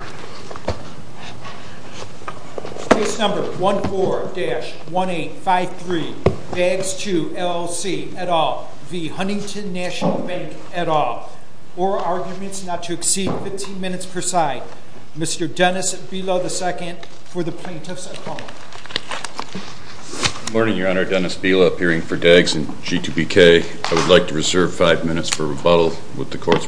at all, or arguments not to exceed 15 minutes per side. Mr. Dennis Bila II for the Plaintiffs at Home. Good morning, Your Honor. Dennis Bila, appearing for DAGS and G2BK. I would like to reserve five minutes for rebuttal with the Court's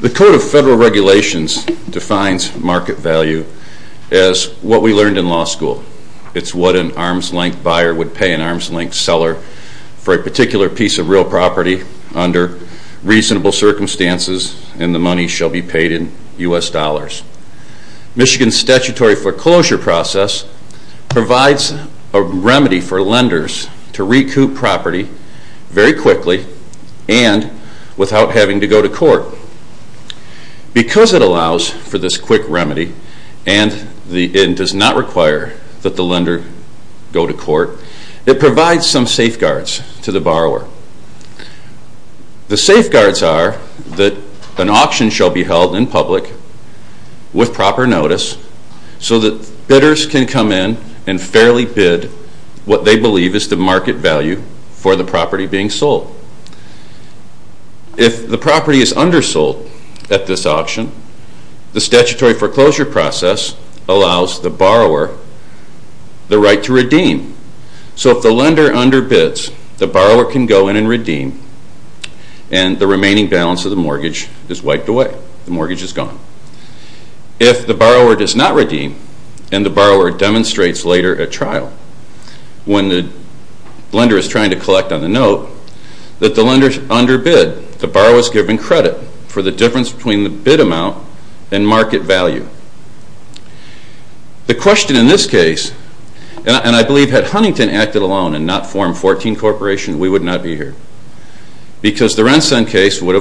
The Code of Federal Regulations defines market value as what we learned in law school. It's what an arms-length buyer would pay an arms-length seller for a particular piece of real property under reasonable circumstances, and the money shall be paid in U.S. dollars. Michigan's statutory foreclosure process provides a remedy for lenders to recoup property very quickly and without having to go to court. Because it allows for this quick remedy and it does not require that the lender go to court, it provides some safeguards to the borrower. The safeguards are that an auction shall be held in which lenders can come in and fairly bid what they believe is the market value for the property being sold. If the property is undersold at this auction, the statutory foreclosure process allows the borrower the right to redeem. So if the lender underbids, the borrower can go in and redeem, and the borrower demonstrates later at trial when the lender is trying to collect on the note that the lender underbid, the borrower is given credit for the difference between the bid amount and market value. The question in this case, and I believe had Huntington acted alone and not formed 14 Corporation, we would have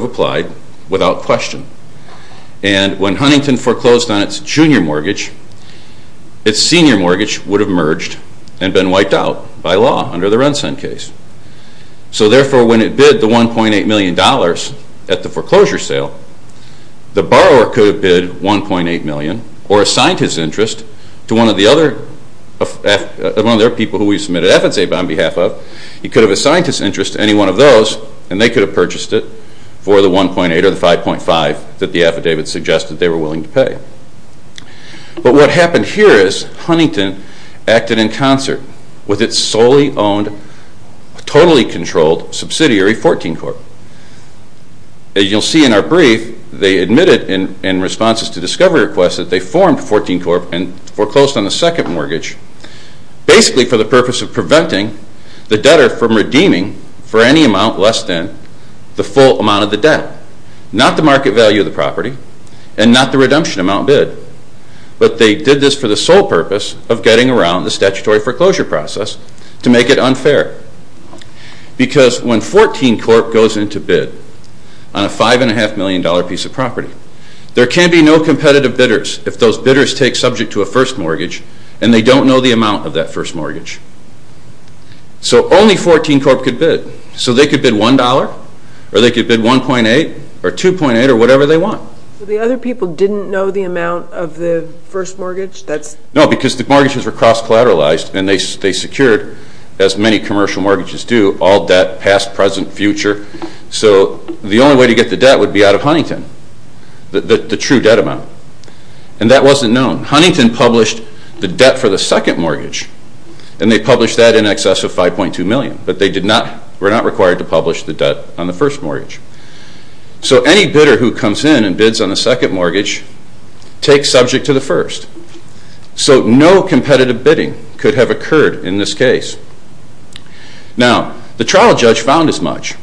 applied without question. And when Huntington foreclosed on its junior mortgage, its senior mortgage would have merged and been wiped out by law under the Rensen case. So therefore, when it bid the $1.8 million at the foreclosure sale, the borrower could have bid $1.8 million or assigned his mortgage for the $1.8 or the $5.5 that the affidavit suggested they were willing to pay. But what happened here is Huntington acted in concert with its solely owned, totally controlled subsidiary, 14 Corp. As you'll see in our brief, they admitted in responses to discovery requests that they formed 14 Corp. and not the market value of the property and not the redemption amount bid, but they did this for the sole purpose of getting around the statutory foreclosure process to make it unfair. Because when 14 Corp. goes in to bid on a $5.5 million piece of property, there can be no competitive bidders if those bidders take subject to a first mortgage. So the other people didn't know the amount of the first mortgage? No, because the mortgages were cross-collateralized and they secured, as many commercial mortgages do, all debt past, present, future. So the only way to get the debt would be out of Huntington, the true debt amount. And that wasn't known. Huntington published the debt for the second mortgage and they published that in So any bidder who comes in and bids on the second mortgage takes subject to the first. So no competitive bidding could have occurred in this case. Now, the trial judge found as much.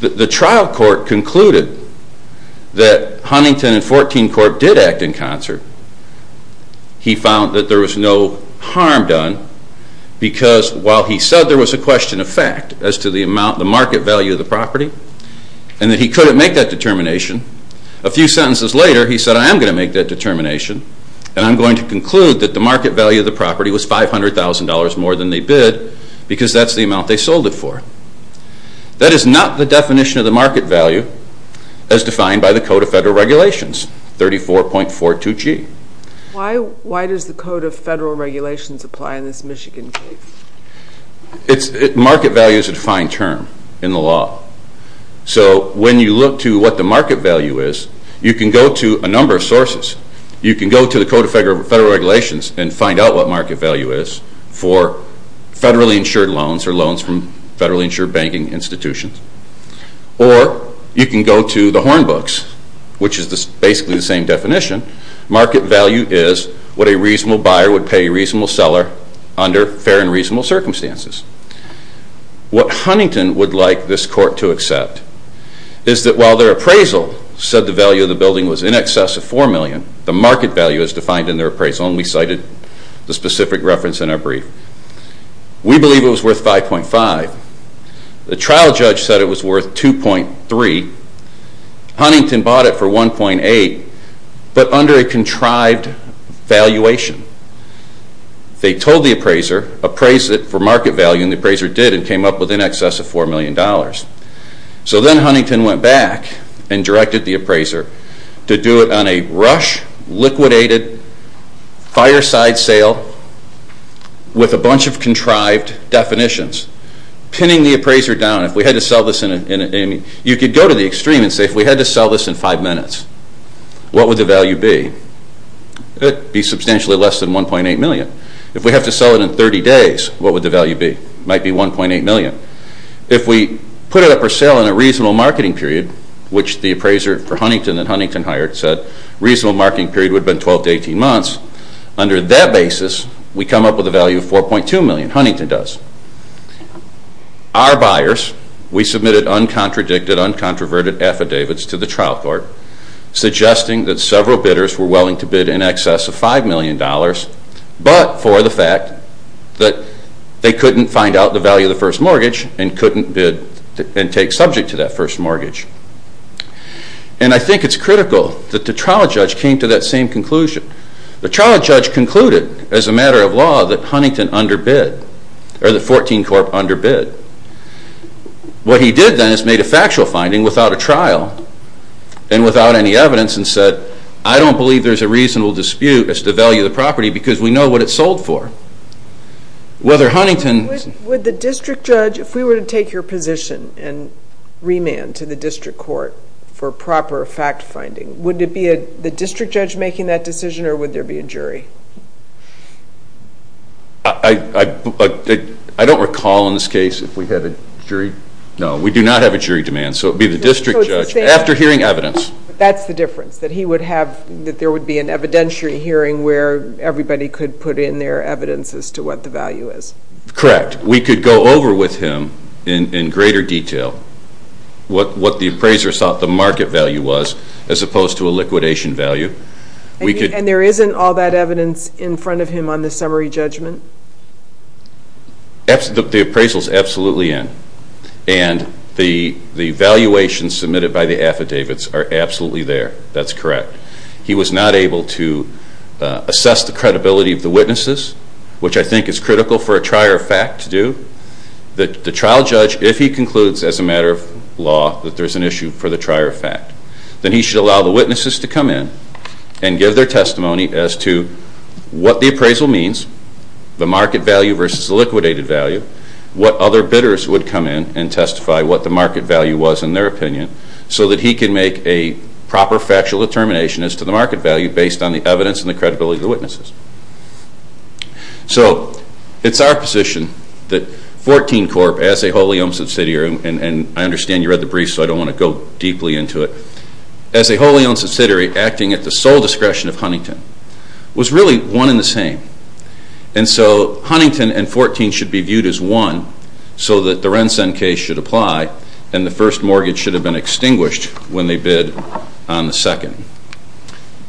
The trial court concluded that Huntington and 14 Corp. did act in concert. He found that there was no harm done because while he said there was a amount, the market value of the property, and that he couldn't make that determination, a few sentences later he said, I am going to make that determination and I'm going to conclude that the market value of the property was $500,000 more than they bid because that's the amount they sold it for. That is not the definition of the market value as defined by the Code of Federal Regulations, 34.42G. Why does the Code of Federal Regulations apply in this Michigan case? Market value is a defined term in the law. So when you look to what the market value is, you can go to a number of sources. You can go to the Code of Federal Regulations and find out what market value is for federally insured loans or loans from federally insured banking institutions. Or you can go to the Horn Books, which is basically the same definition. Market value is what a reasonable buyer would pay a reasonable seller under fair and reasonable circumstances. What Huntington would like this court to accept is that while their appraisal said the value of the building was in excess of $4 million, the market value is defined in their appraisal, and we cited the specific reference in our brief. We believe it was worth 5.5. The trial judge said it was worth 2.3. Huntington bought it for 1.8, but under a contrived valuation. They told the appraiser, appraised it for market value, and the appraiser did and came up with in excess of $4 million. So then Huntington went back and directed the appraiser to do it on a rush, liquidated, fireside sale with a bunch of contrived definitions. Pinning the appraiser down, if we had to sell this in, you could go to the extreme and say if we had to sell this in 5 minutes, what would the value be? It would be substantially less than 1.8 million. If we have to sell it in 30 days, what would the value be? It might be 1.8 million. If we put it up for sale in a reasonable marketing period, which the appraiser for Huntington that Huntington hired said a reasonable marketing period would have been 12 to 18 months, under that basis we come up with a value of 4.2 million. Huntington does. Our buyers, we submitted uncontradicted, uncontroverted affidavits to the trial court, suggesting that several bidders were willing to bid in excess of $5 million, but for the fact that they couldn't find out the value of the first mortgage and couldn't bid and take subject to that first mortgage. And I think it's critical that the trial judge came to that same conclusion. The trial judge concluded, as a matter of law, that Huntington underbid, or that 14 Corp underbid. What he did then is made a factual finding without a trial and without any evidence and said, I don't believe there's a reasonable dispute as to the value of the property because we know what it's sold for. Whether Huntington... Would the district judge, if we were to take your position and remand to the district court for proper fact finding, would it be the district judge making that decision or would there be a jury? I don't recall in this case if we had a jury. No, we do not have a jury demand. So it would be the district judge, after hearing evidence. That's the difference, that there would be an evidentiary hearing where everybody could put in their evidence as to what the value is. Correct. We could go over with him in greater detail what the appraiser thought the market value was as opposed to a liquidation value. And there isn't all that evidence in front of him on the summary judgment? The appraisal is absolutely in and the valuations submitted by the affidavits are absolutely there. That's correct. He was not able to assess the credibility of the witnesses, which I think is critical for a trier of fact to do. The trial judge, if he concludes as a matter of law that there's an issue for the trier of fact, then he should allow the witnesses to come in and give their testimony as to what the appraisal means, the market value versus the liquidated value, what other bidders would come in and testify what the market value was in their opinion, so that he can make a proper factual determination as to the market value based on the evidence and the credibility of the witnesses. So it's our position that 14 Corp., as a wholly owned subsidiary, and I understand you read the brief so I don't want to go deeply into it, as a wholly owned subsidiary acting at the sole discretion of Huntington, was really one and the same. And so Huntington and 14 should be viewed as one so that the Rensen case should apply and the first mortgage should have been extinguished when they bid on the second.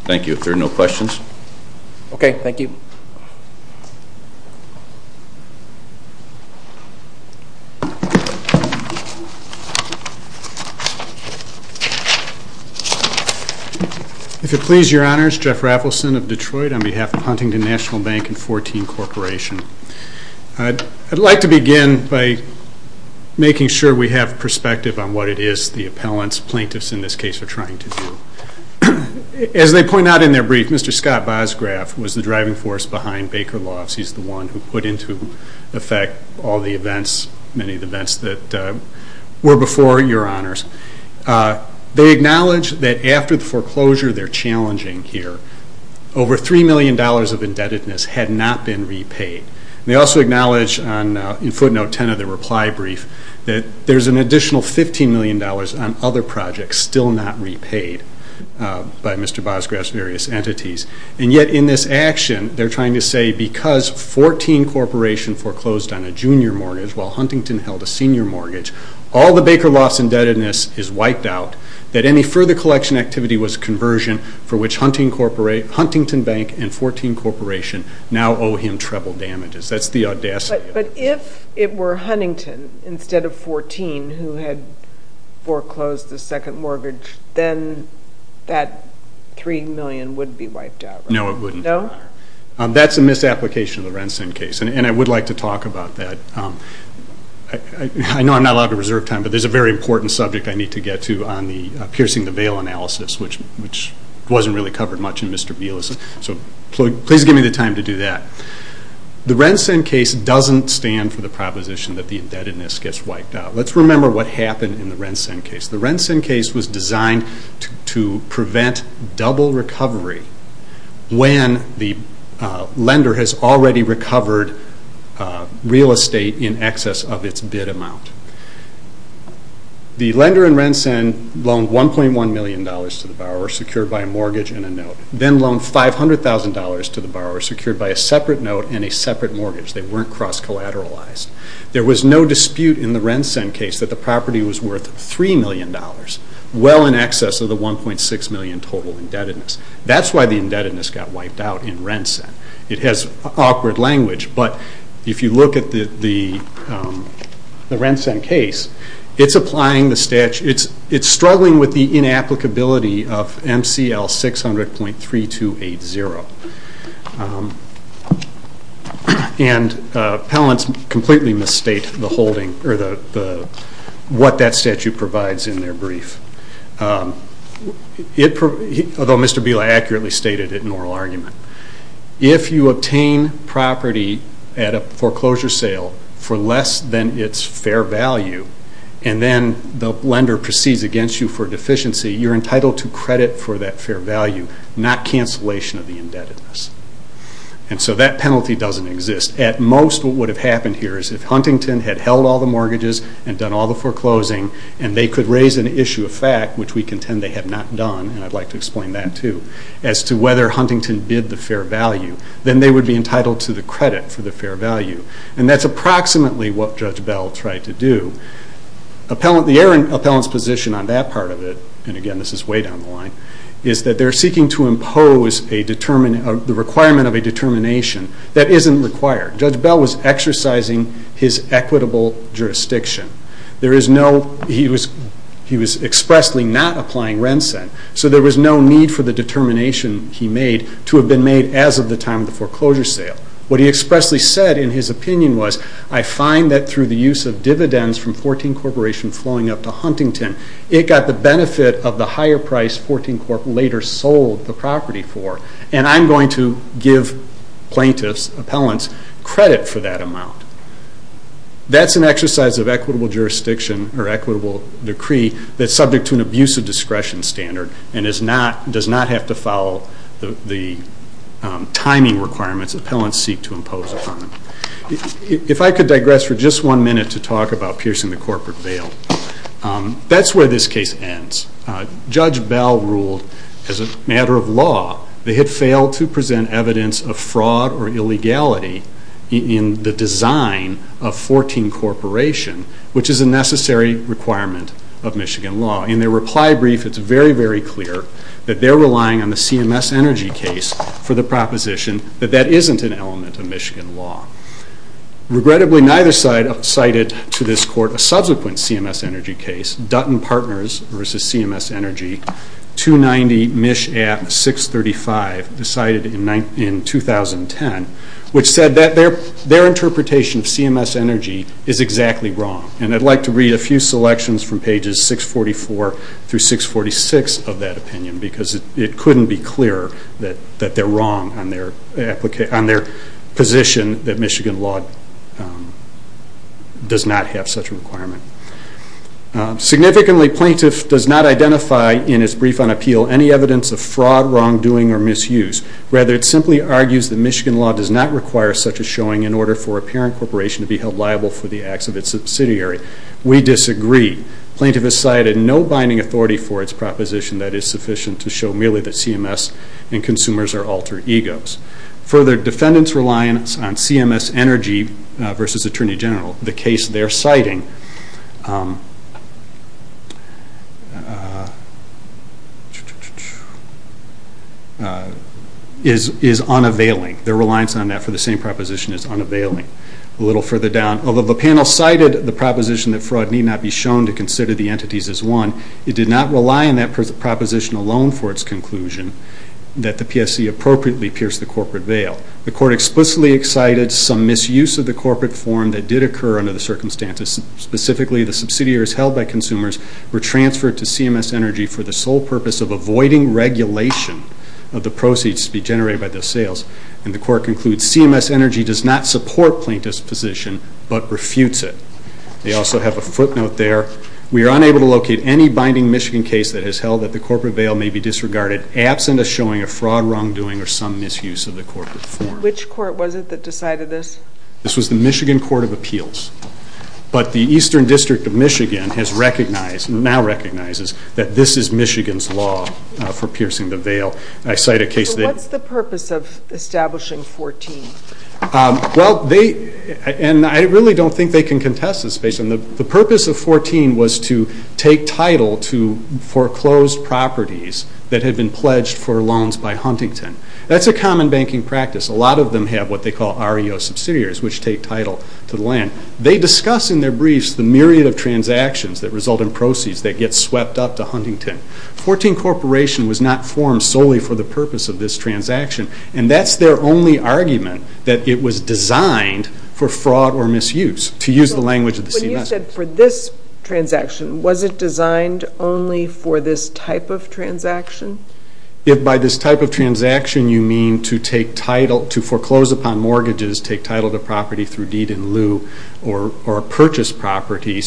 Thank you. If there are no questions. Okay, thank you. If it please your honors, Jeff Raffleson of Detroit on behalf of Huntington National Bank and 14 Corporation. I'd like to begin by making sure we have perspective on what it is the appellants, plaintiffs in this case, are trying to do. As they point out in their brief, Mr. Scott Bosgraf was the driving force behind Baker Laws. He's the one who put into effect all the events, many of the events that were before your honors. They acknowledge that after the foreclosure they're challenging here, over $3 million of indebtedness had not been repaid. They also acknowledge in footnote 10 of their reply brief that there's an additional $15 million on other projects still not repaid. By Mr. Bosgraf's various entities. And yet in this action they're trying to say because 14 Corporation foreclosed on a junior mortgage while Huntington held a senior mortgage, all the Baker Laws indebtedness is wiped out. That any further collection activity was conversion for which Huntington Bank and 14 Corporation now owe him treble damages. That's the audacity. But if it were Huntington instead of 14 who had foreclosed the second mortgage, then that $3 million wouldn't be wiped out, right? No, it wouldn't. No? That's a misapplication of the Rensen case. And I would like to talk about that. I know I'm not allowed to reserve time, but there's a very important subject I need to get to on the piercing the veil analysis, which wasn't really covered much in Mr. Beal's. So please give me the time to do that. The Rensen case doesn't stand for the proposition that the indebtedness gets wiped out. Let's remember what happened in the Rensen case. The Rensen case was designed to prevent double recovery when the lender has already recovered real estate in excess of its bid amount. The lender in Rensen loaned $1.1 million to the borrower, secured by a mortgage and a note. Then loaned $500,000 to the borrower, secured by a separate note and a separate mortgage. They weren't cross-collateralized. There was no dispute in the Rensen case that the property was worth $3 million, well in excess of the $1.6 million total indebtedness. That's why the indebtedness got wiped out in Rensen. It has awkward language, but if you look at the Rensen case, it's struggling with the inapplicability of MCL 600.3280. And appellants completely misstate what that statute provides in their brief. Although Mr. Beal accurately stated it in an oral argument. If you obtain property at a foreclosure sale for less than its fair value, and then the lender proceeds against you for deficiency, you're entitled to credit for that fair value, not cancellation of the indebtedness. And so that penalty doesn't exist. At most, what would have happened here is if Huntington had held all the mortgages and done all the foreclosing, and they could raise an issue of fact, which we contend they have not done, and I'd like to explain that too, as to whether Huntington bid the fair value, then they would be entitled to the credit for the fair value. And that's approximately what Judge Bell tried to do. The appellant's position on that part of it, and again this is way down the line, is that they're seeking to impose the requirement of a determination that isn't required. Judge Bell was exercising his equitable jurisdiction. He was expressly not applying rent-sent, so there was no need for the determination he made to have been made as of the time of the foreclosure sale. What he expressly said in his opinion was, I find that through the use of dividends from 14 Corporation flowing up to Huntington, it got the benefit of the higher price 14 Corporation later sold the property for, and I'm going to give plaintiffs, appellants, credit for that amount. That's an exercise of equitable jurisdiction, or equitable decree, that's subject to an abuse of discretion standard, and does not have to follow the timing requirements appellants seek to impose upon them. If I could digress for just one minute to talk about piercing the corporate veil. That's where this case ends. Judge Bell ruled as a matter of law, they had failed to present evidence of fraud or illegality in the design of 14 Corporation, which is a necessary requirement of Michigan law. In their reply brief, it's very, very clear that they're relying on the CMS Energy case for the proposition that that isn't an element of Michigan law. Regrettably, neither side cited to this court a subsequent CMS Energy case, Dutton Partners versus CMS Energy, 290 MISH Act 635, decided in 2010, which said that their interpretation of CMS Energy is exactly wrong. I'd like to read a few selections from pages 644 through 646 of that opinion, because it couldn't be clearer that they're wrong on their position that Michigan law does not have such a requirement. Significantly, plaintiff does not identify in his brief on appeal any evidence of fraud, wrongdoing, or misuse. Rather, it simply argues that Michigan law does not require such a showing in order for a parent corporation to be held liable for the acts of its subsidiary. We disagree. Plaintiff has cited no binding authority for its proposition that is sufficient to show merely that CMS and consumers are alter egos. Further, defendants reliance on CMS Energy versus Attorney General, the case they're citing, is unavailing. Their reliance on that for the same proposition is unavailing. A little further down, although the panel cited the proposition that fraud need not be shown to consider the entities as one, it did not rely on that proposition alone for its conclusion that the PSC appropriately pierced the corporate veil. The court explicitly cited some misuse of the corporate form that did occur under the circumstances. Specifically, the subsidiaries held by consumers were transferred to CMS Energy for the sole purpose of avoiding regulation of the proceeds to be generated by the sales. And the court concludes CMS Energy does not support plaintiff's position but refutes it. They also have a footnote there. We are unable to locate any binding Michigan case that has held that the corporate veil may be disregarded absent a showing of fraud, some wrongdoing, or some misuse of the corporate form. Which court was it that decided this? This was the Michigan Court of Appeals. But the Eastern District of Michigan has recognized, now recognizes that this is Michigan's law for piercing the veil. What's the purpose of establishing 14? I really don't think they can contest this. The purpose of 14 was to take title to foreclosed properties that had been pledged for loans by Huntington. That's a common banking practice. A lot of them have what they call REO subsidiaries, which take title to the land. They discuss in their briefs the myriad of transactions that result in proceeds that get swept up to Huntington. 14 Corporation was not formed solely for the purpose of this transaction, and that's their only argument that it was designed for fraud or misuse, to use the language of the CMS. You said for this transaction. Was it designed only for this type of transaction? If by this type of transaction you mean to foreclose upon mortgages, take title to property through deed in lieu, or purchase property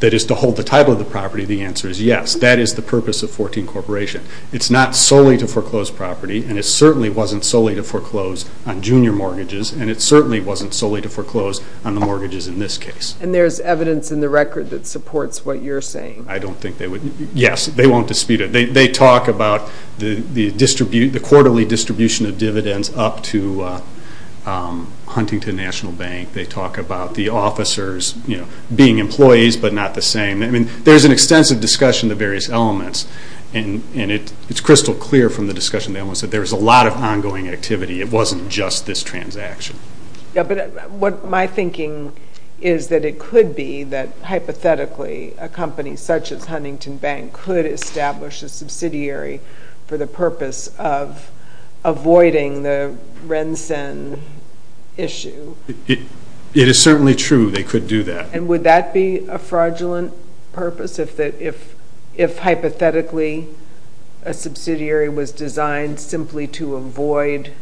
that is to hold the title of the property, the answer is yes. That is the purpose of 14 Corporation. It's not solely to foreclose property, and it certainly wasn't solely to foreclose on junior mortgages, and it certainly wasn't solely to foreclose on the mortgages in this case. And there's evidence in the record that supports what you're saying? I don't think they would. Yes, they won't dispute it. They talk about the quarterly distribution of dividends up to Huntington National Bank. They talk about the officers being employees but not the same. There's an extensive discussion of the various elements, and it's crystal clear from the discussion that there was a lot of ongoing activity. It wasn't just this transaction. Yes, but my thinking is that it could be that hypothetically a company such as Huntington Bank could establish a subsidiary for the purpose of avoiding the RENSEN issue. It is certainly true they could do that. And would that be a fraudulent purpose if hypothetically a subsidiary was designed simply to avoid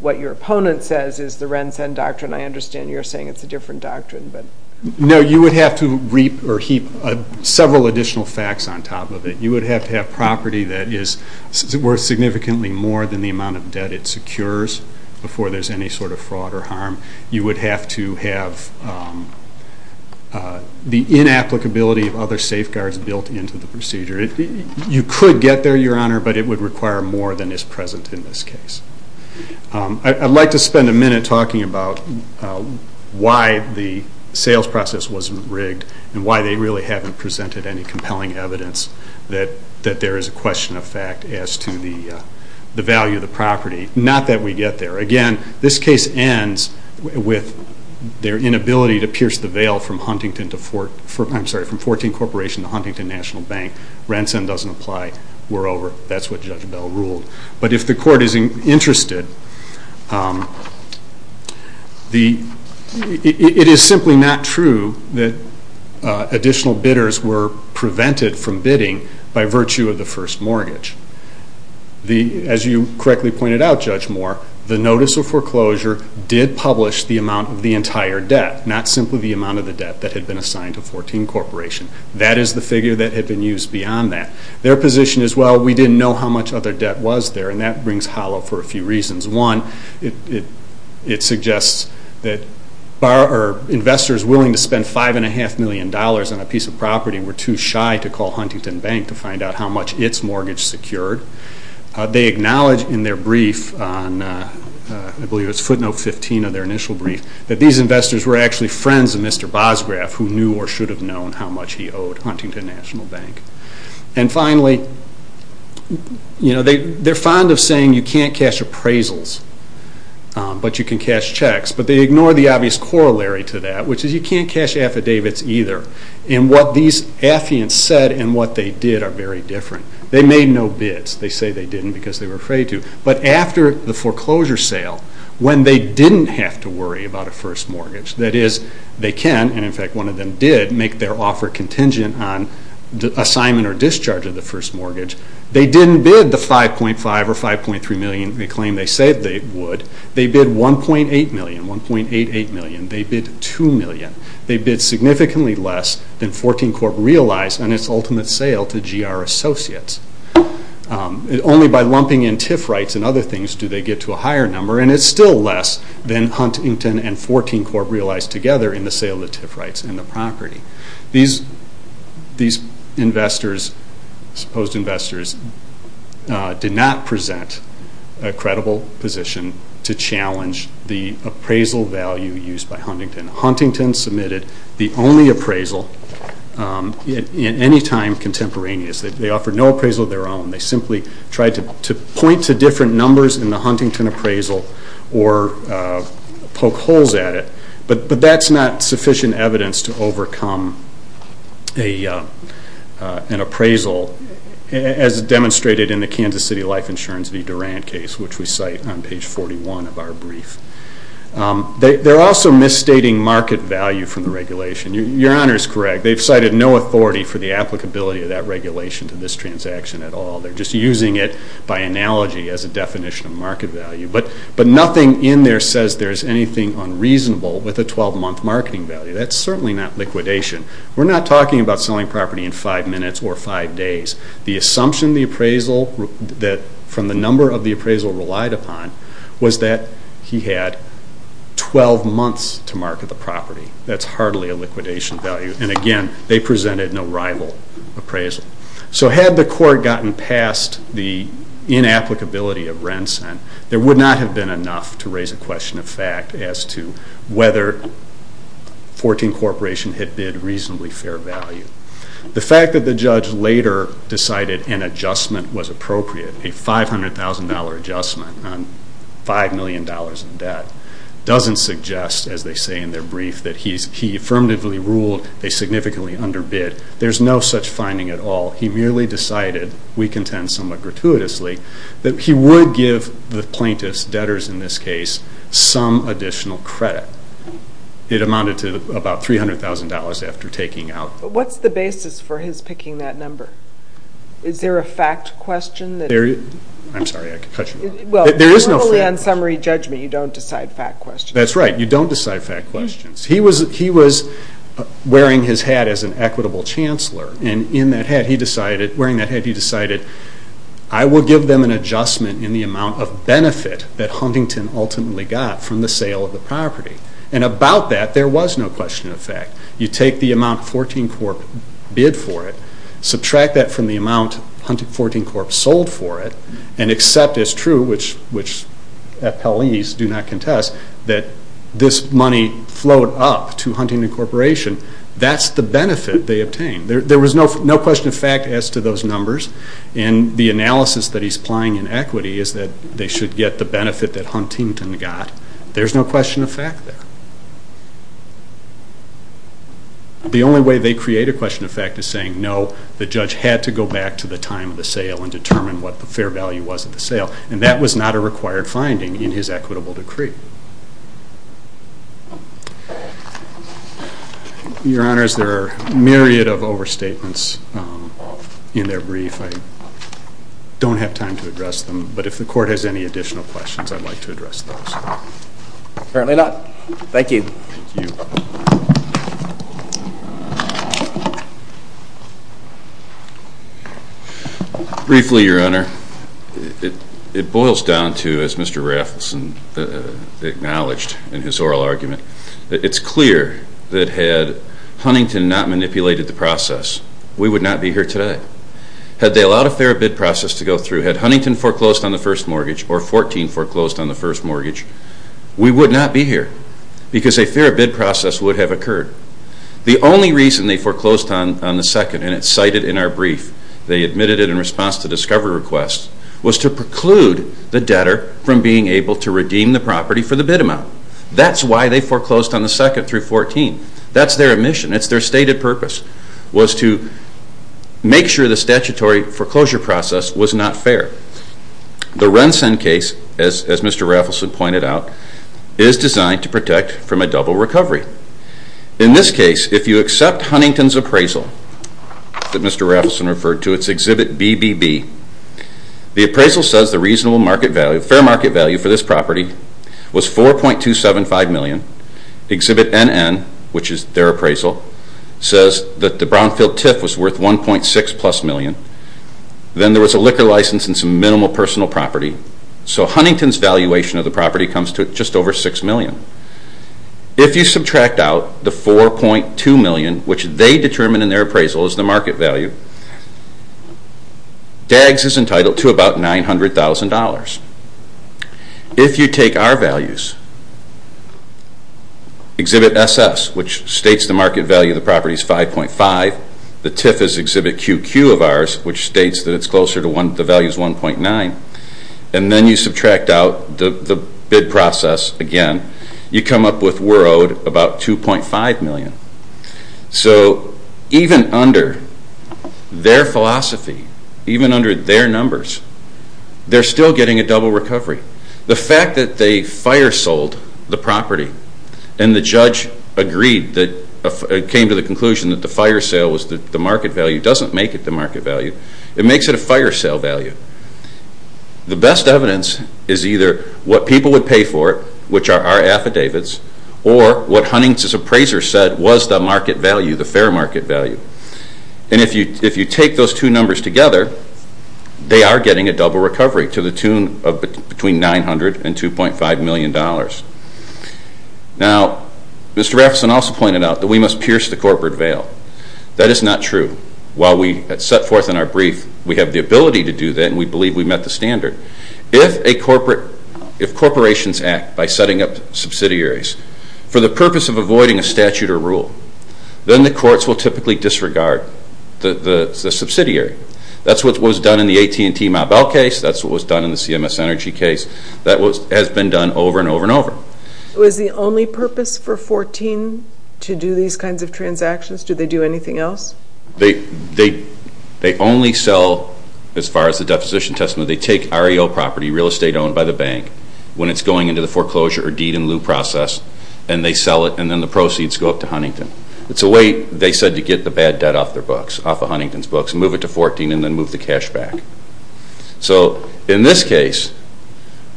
what your opponent says is the RENSEN doctrine? I understand you're saying it's a different doctrine. No, you would have to heap several additional facts on top of it. You would have to have property that is worth significantly more than the amount of debt it secures You would have to have the inapplicability of other safeguards built into the procedure. You could get there, Your Honor, but it would require more than is present in this case. I'd like to spend a minute talking about why the sales process wasn't rigged and why they really haven't presented any compelling evidence that there is a question of fact as to the value of the property. Not that we get there. Again, this case ends with their inability to pierce the veil from 14 Corporation to Huntington National Bank. RENSEN doesn't apply. We're over. That's what Judge Bell ruled. But if the Court is interested, it is simply not true that additional bidders were prevented from bidding by virtue of the first mortgage. As you correctly pointed out, Judge Moore, the notice of foreclosure did publish the amount of the entire debt, not simply the amount of the debt that had been assigned to 14 Corporation. That is the figure that had been used beyond that. Their position is, well, we didn't know how much other debt was there, and that brings hollow for a few reasons. One, it suggests that investors willing to spend $5.5 million on a piece of property were too shy to call Huntington Bank to find out how much its mortgage secured. They acknowledge in their brief, I believe it was footnote 15 of their initial brief, that these investors were actually friends of Mr. Bosgraf, who knew or should have known how much he owed Huntington National Bank. And finally, they're fond of saying you can't cash appraisals, but you can cash checks. But they ignore the obvious corollary to that, which is you can't cash affidavits either. And what these affiants said and what they did are very different. They made no bids. They say they didn't because they were afraid to. But after the foreclosure sale, when they didn't have to worry about a first mortgage, that is, they can, and in fact one of them did, make their offer contingent on the assignment or discharge of the first mortgage, they didn't bid the $5.5 or $5.3 million claim they said they would. They bid $1.8 million, $1.88 million. They bid $2 million. They bid significantly less than 14 Corp. realized on its ultimate sale to GR Associates. Only by lumping in TIF rights and other things do they get to a higher number, and it's still less than Huntington and 14 Corp. realized together in the sale of the TIF rights and the property. These investors, supposed investors, did not present a credible position to challenge the appraisal value used by Huntington. Huntington submitted the only appraisal in any time contemporaneous. They offered no appraisal of their own. They simply tried to point to different numbers in the Huntington appraisal or poke holes at it. But that's not sufficient evidence to overcome an appraisal, as demonstrated in the Kansas City Life Insurance v. Durand case, which we cite on page 41 of our brief. They're also misstating market value from the regulation. Your Honor is correct. They've cited no authority for the applicability of that regulation to this transaction at all. They're just using it by analogy as a definition of market value. But nothing in there says there's anything unreasonable with a 12-month marketing value. That's certainly not liquidation. We're not talking about selling property in 5 minutes or 5 days. The assumption the appraisal, from the number of the appraisal relied upon, was that he had 12 months to market the property. That's hardly a liquidation value. And, again, they presented no rival appraisal. So had the court gotten past the inapplicability of Rensen, there would not have been enough to raise a question of fact as to whether 14 Corporation had bid reasonably fair value. The fact that the judge later decided an adjustment was appropriate, a $500,000 adjustment on $5 million in debt, doesn't suggest, as they say in their brief, that he affirmatively ruled they significantly underbid. There's no such finding at all. He merely decided, we contend somewhat gratuitously, that he would give the plaintiffs, debtors in this case, some additional credit. It amounted to about $300,000 after taking out. What's the basis for his picking that number? Is there a fact question? I'm sorry, I could cut you off. Well, normally on summary judgment you don't decide fact questions. That's right, you don't decide fact questions. He was wearing his hat as an equitable chancellor, and in that hat he decided, wearing that hat he decided, I will give them an adjustment in the amount of benefit that Huntington ultimately got from the sale of the property. And about that, there was no question of fact. You take the amount 14 Corp bid for it, subtract that from the amount 14 Corp sold for it, and accept as true, which appellees do not contest, that this money flowed up to Huntington Corporation. That's the benefit they obtained. There was no question of fact as to those numbers, and the analysis that he's applying in equity is that they should get the benefit that Huntington got. There's no question of fact there. The only way they create a question of fact is saying, no, the judge had to go back to the time of the sale and determine what the fair value was of the sale, and that was not a required finding in his equitable decree. Your Honors, there are a myriad of overstatements in their brief. I don't have time to address them, but if the court has any additional questions, I'd like to address those. Apparently not. Thank you. Briefly, Your Honor, it boils down to, as Mr. Raffleson acknowledged in his oral argument, it's clear that had Huntington not manipulated the process, we would not be here today. Had they allowed a fair bid process to go through, had Huntington foreclosed on the first mortgage, or 14 foreclosed on the first mortgage, we would not be here, because a fair bid process would have occurred. The only reason they foreclosed on the second, and it's cited in our brief, they admitted it in response to discovery requests, was to preclude the debtor from being able to redeem the property for the bid amount. That's why they foreclosed on the second through 14. That's their omission. It's their stated purpose, was to make sure the statutory foreclosure process was not fair. The Rensen case, as Mr. Raffleson pointed out, is designed to protect from a double recovery. In this case, if you accept Huntington's appraisal, that Mr. Raffleson referred to, it's Exhibit BBB, the appraisal says the reasonable market value, fair market value for this property, was $4.275 million. Exhibit NN, which is their appraisal, says that the brownfield tiff was worth $1.6 million. Then there was a liquor license and some minimal personal property. So Huntington's valuation of the property comes to just over $6 million. If you subtract out the $4.2 million, which they determined in their appraisal as the market value, DAGS is entitled to about $900,000. If you take our values, Exhibit SS, which states the market value of the property is $5.5, the tiff is Exhibit QQ of ours, which states that it's closer to the value of $1.9, and then you subtract out the bid process again, you come up with, we're owed about $2.5 million. So even under their philosophy, even under their numbers, they're still getting a double recovery. The fact that they fire sold the property and the judge came to the conclusion that the fire sale was the market value doesn't make it the market value. It makes it a fire sale value. The best evidence is either what people would pay for it, which are our affidavits, or what Huntington's appraiser said was the market value, the fair market value. And if you take those two numbers together, they are getting a double recovery to the tune of between $900 and $2.5 million. Now, Mr. Raffeson also pointed out that we must pierce the corporate veil. That is not true. While we set forth in our brief we have the ability to do that and we believe we've met the standard. If corporations act by setting up subsidiaries for the purpose of avoiding a statute or rule, then the courts will typically disregard the subsidiary. That's what was done in the AT&T-Mobel case. That's what was done in the CMS Energy case. That has been done over and over and over. Was the only purpose for 14 to do these kinds of transactions? Did they do anything else? They only sell, as far as the deposition testimony, they take REO property, real estate owned by the bank, when it's going into the foreclosure or deed-in-lieu process, and they sell it and then the proceeds go up to Huntington. It's a way, they said, to get the bad debt off of Huntington's books and move it to 14 and then move the cash back. So in this case,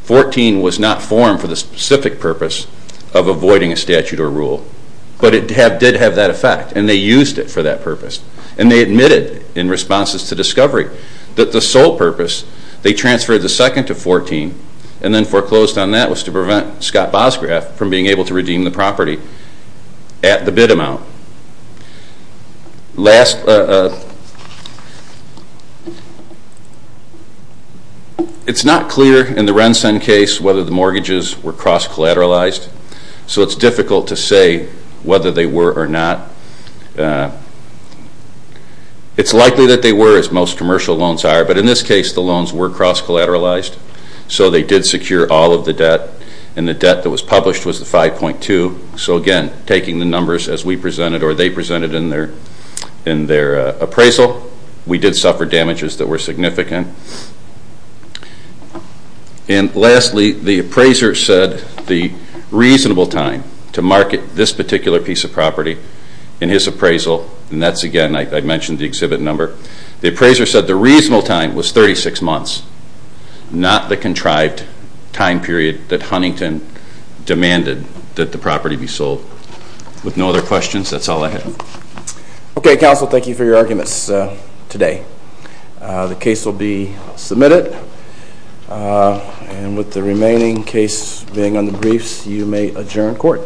14 was not formed for the specific purpose of avoiding a statute or rule, but it did have that effect and they used it for that purpose. And they admitted in responses to discovery that the sole purpose, they transferred the second to 14 and then foreclosed on that was to prevent Scott Bosgraf from being able to redeem the property at the bid amount. Last, it's not clear in the RENSEN case whether the mortgages were cross-collateralized, so it's difficult to say whether they were or not. It's likely that they were, as most commercial loans are, but in this case the loans were cross-collateralized, so they did secure all of the debt and the debt that was published was the 5.2, so again, taking the numbers as we presented or they presented in their appraisal, we did suffer damages that were significant. And lastly, the appraiser said the reasonable time to market this particular piece of property in his appraisal, and that's again, I mentioned the exhibit number, the appraiser said the reasonable time was 36 months, not the contrived time period that Huntington demanded that the property be sold. With no other questions, that's all I have. Okay, counsel, thank you for your arguments today. The case will be submitted, and with the remaining case being on the briefs, you may adjourn court.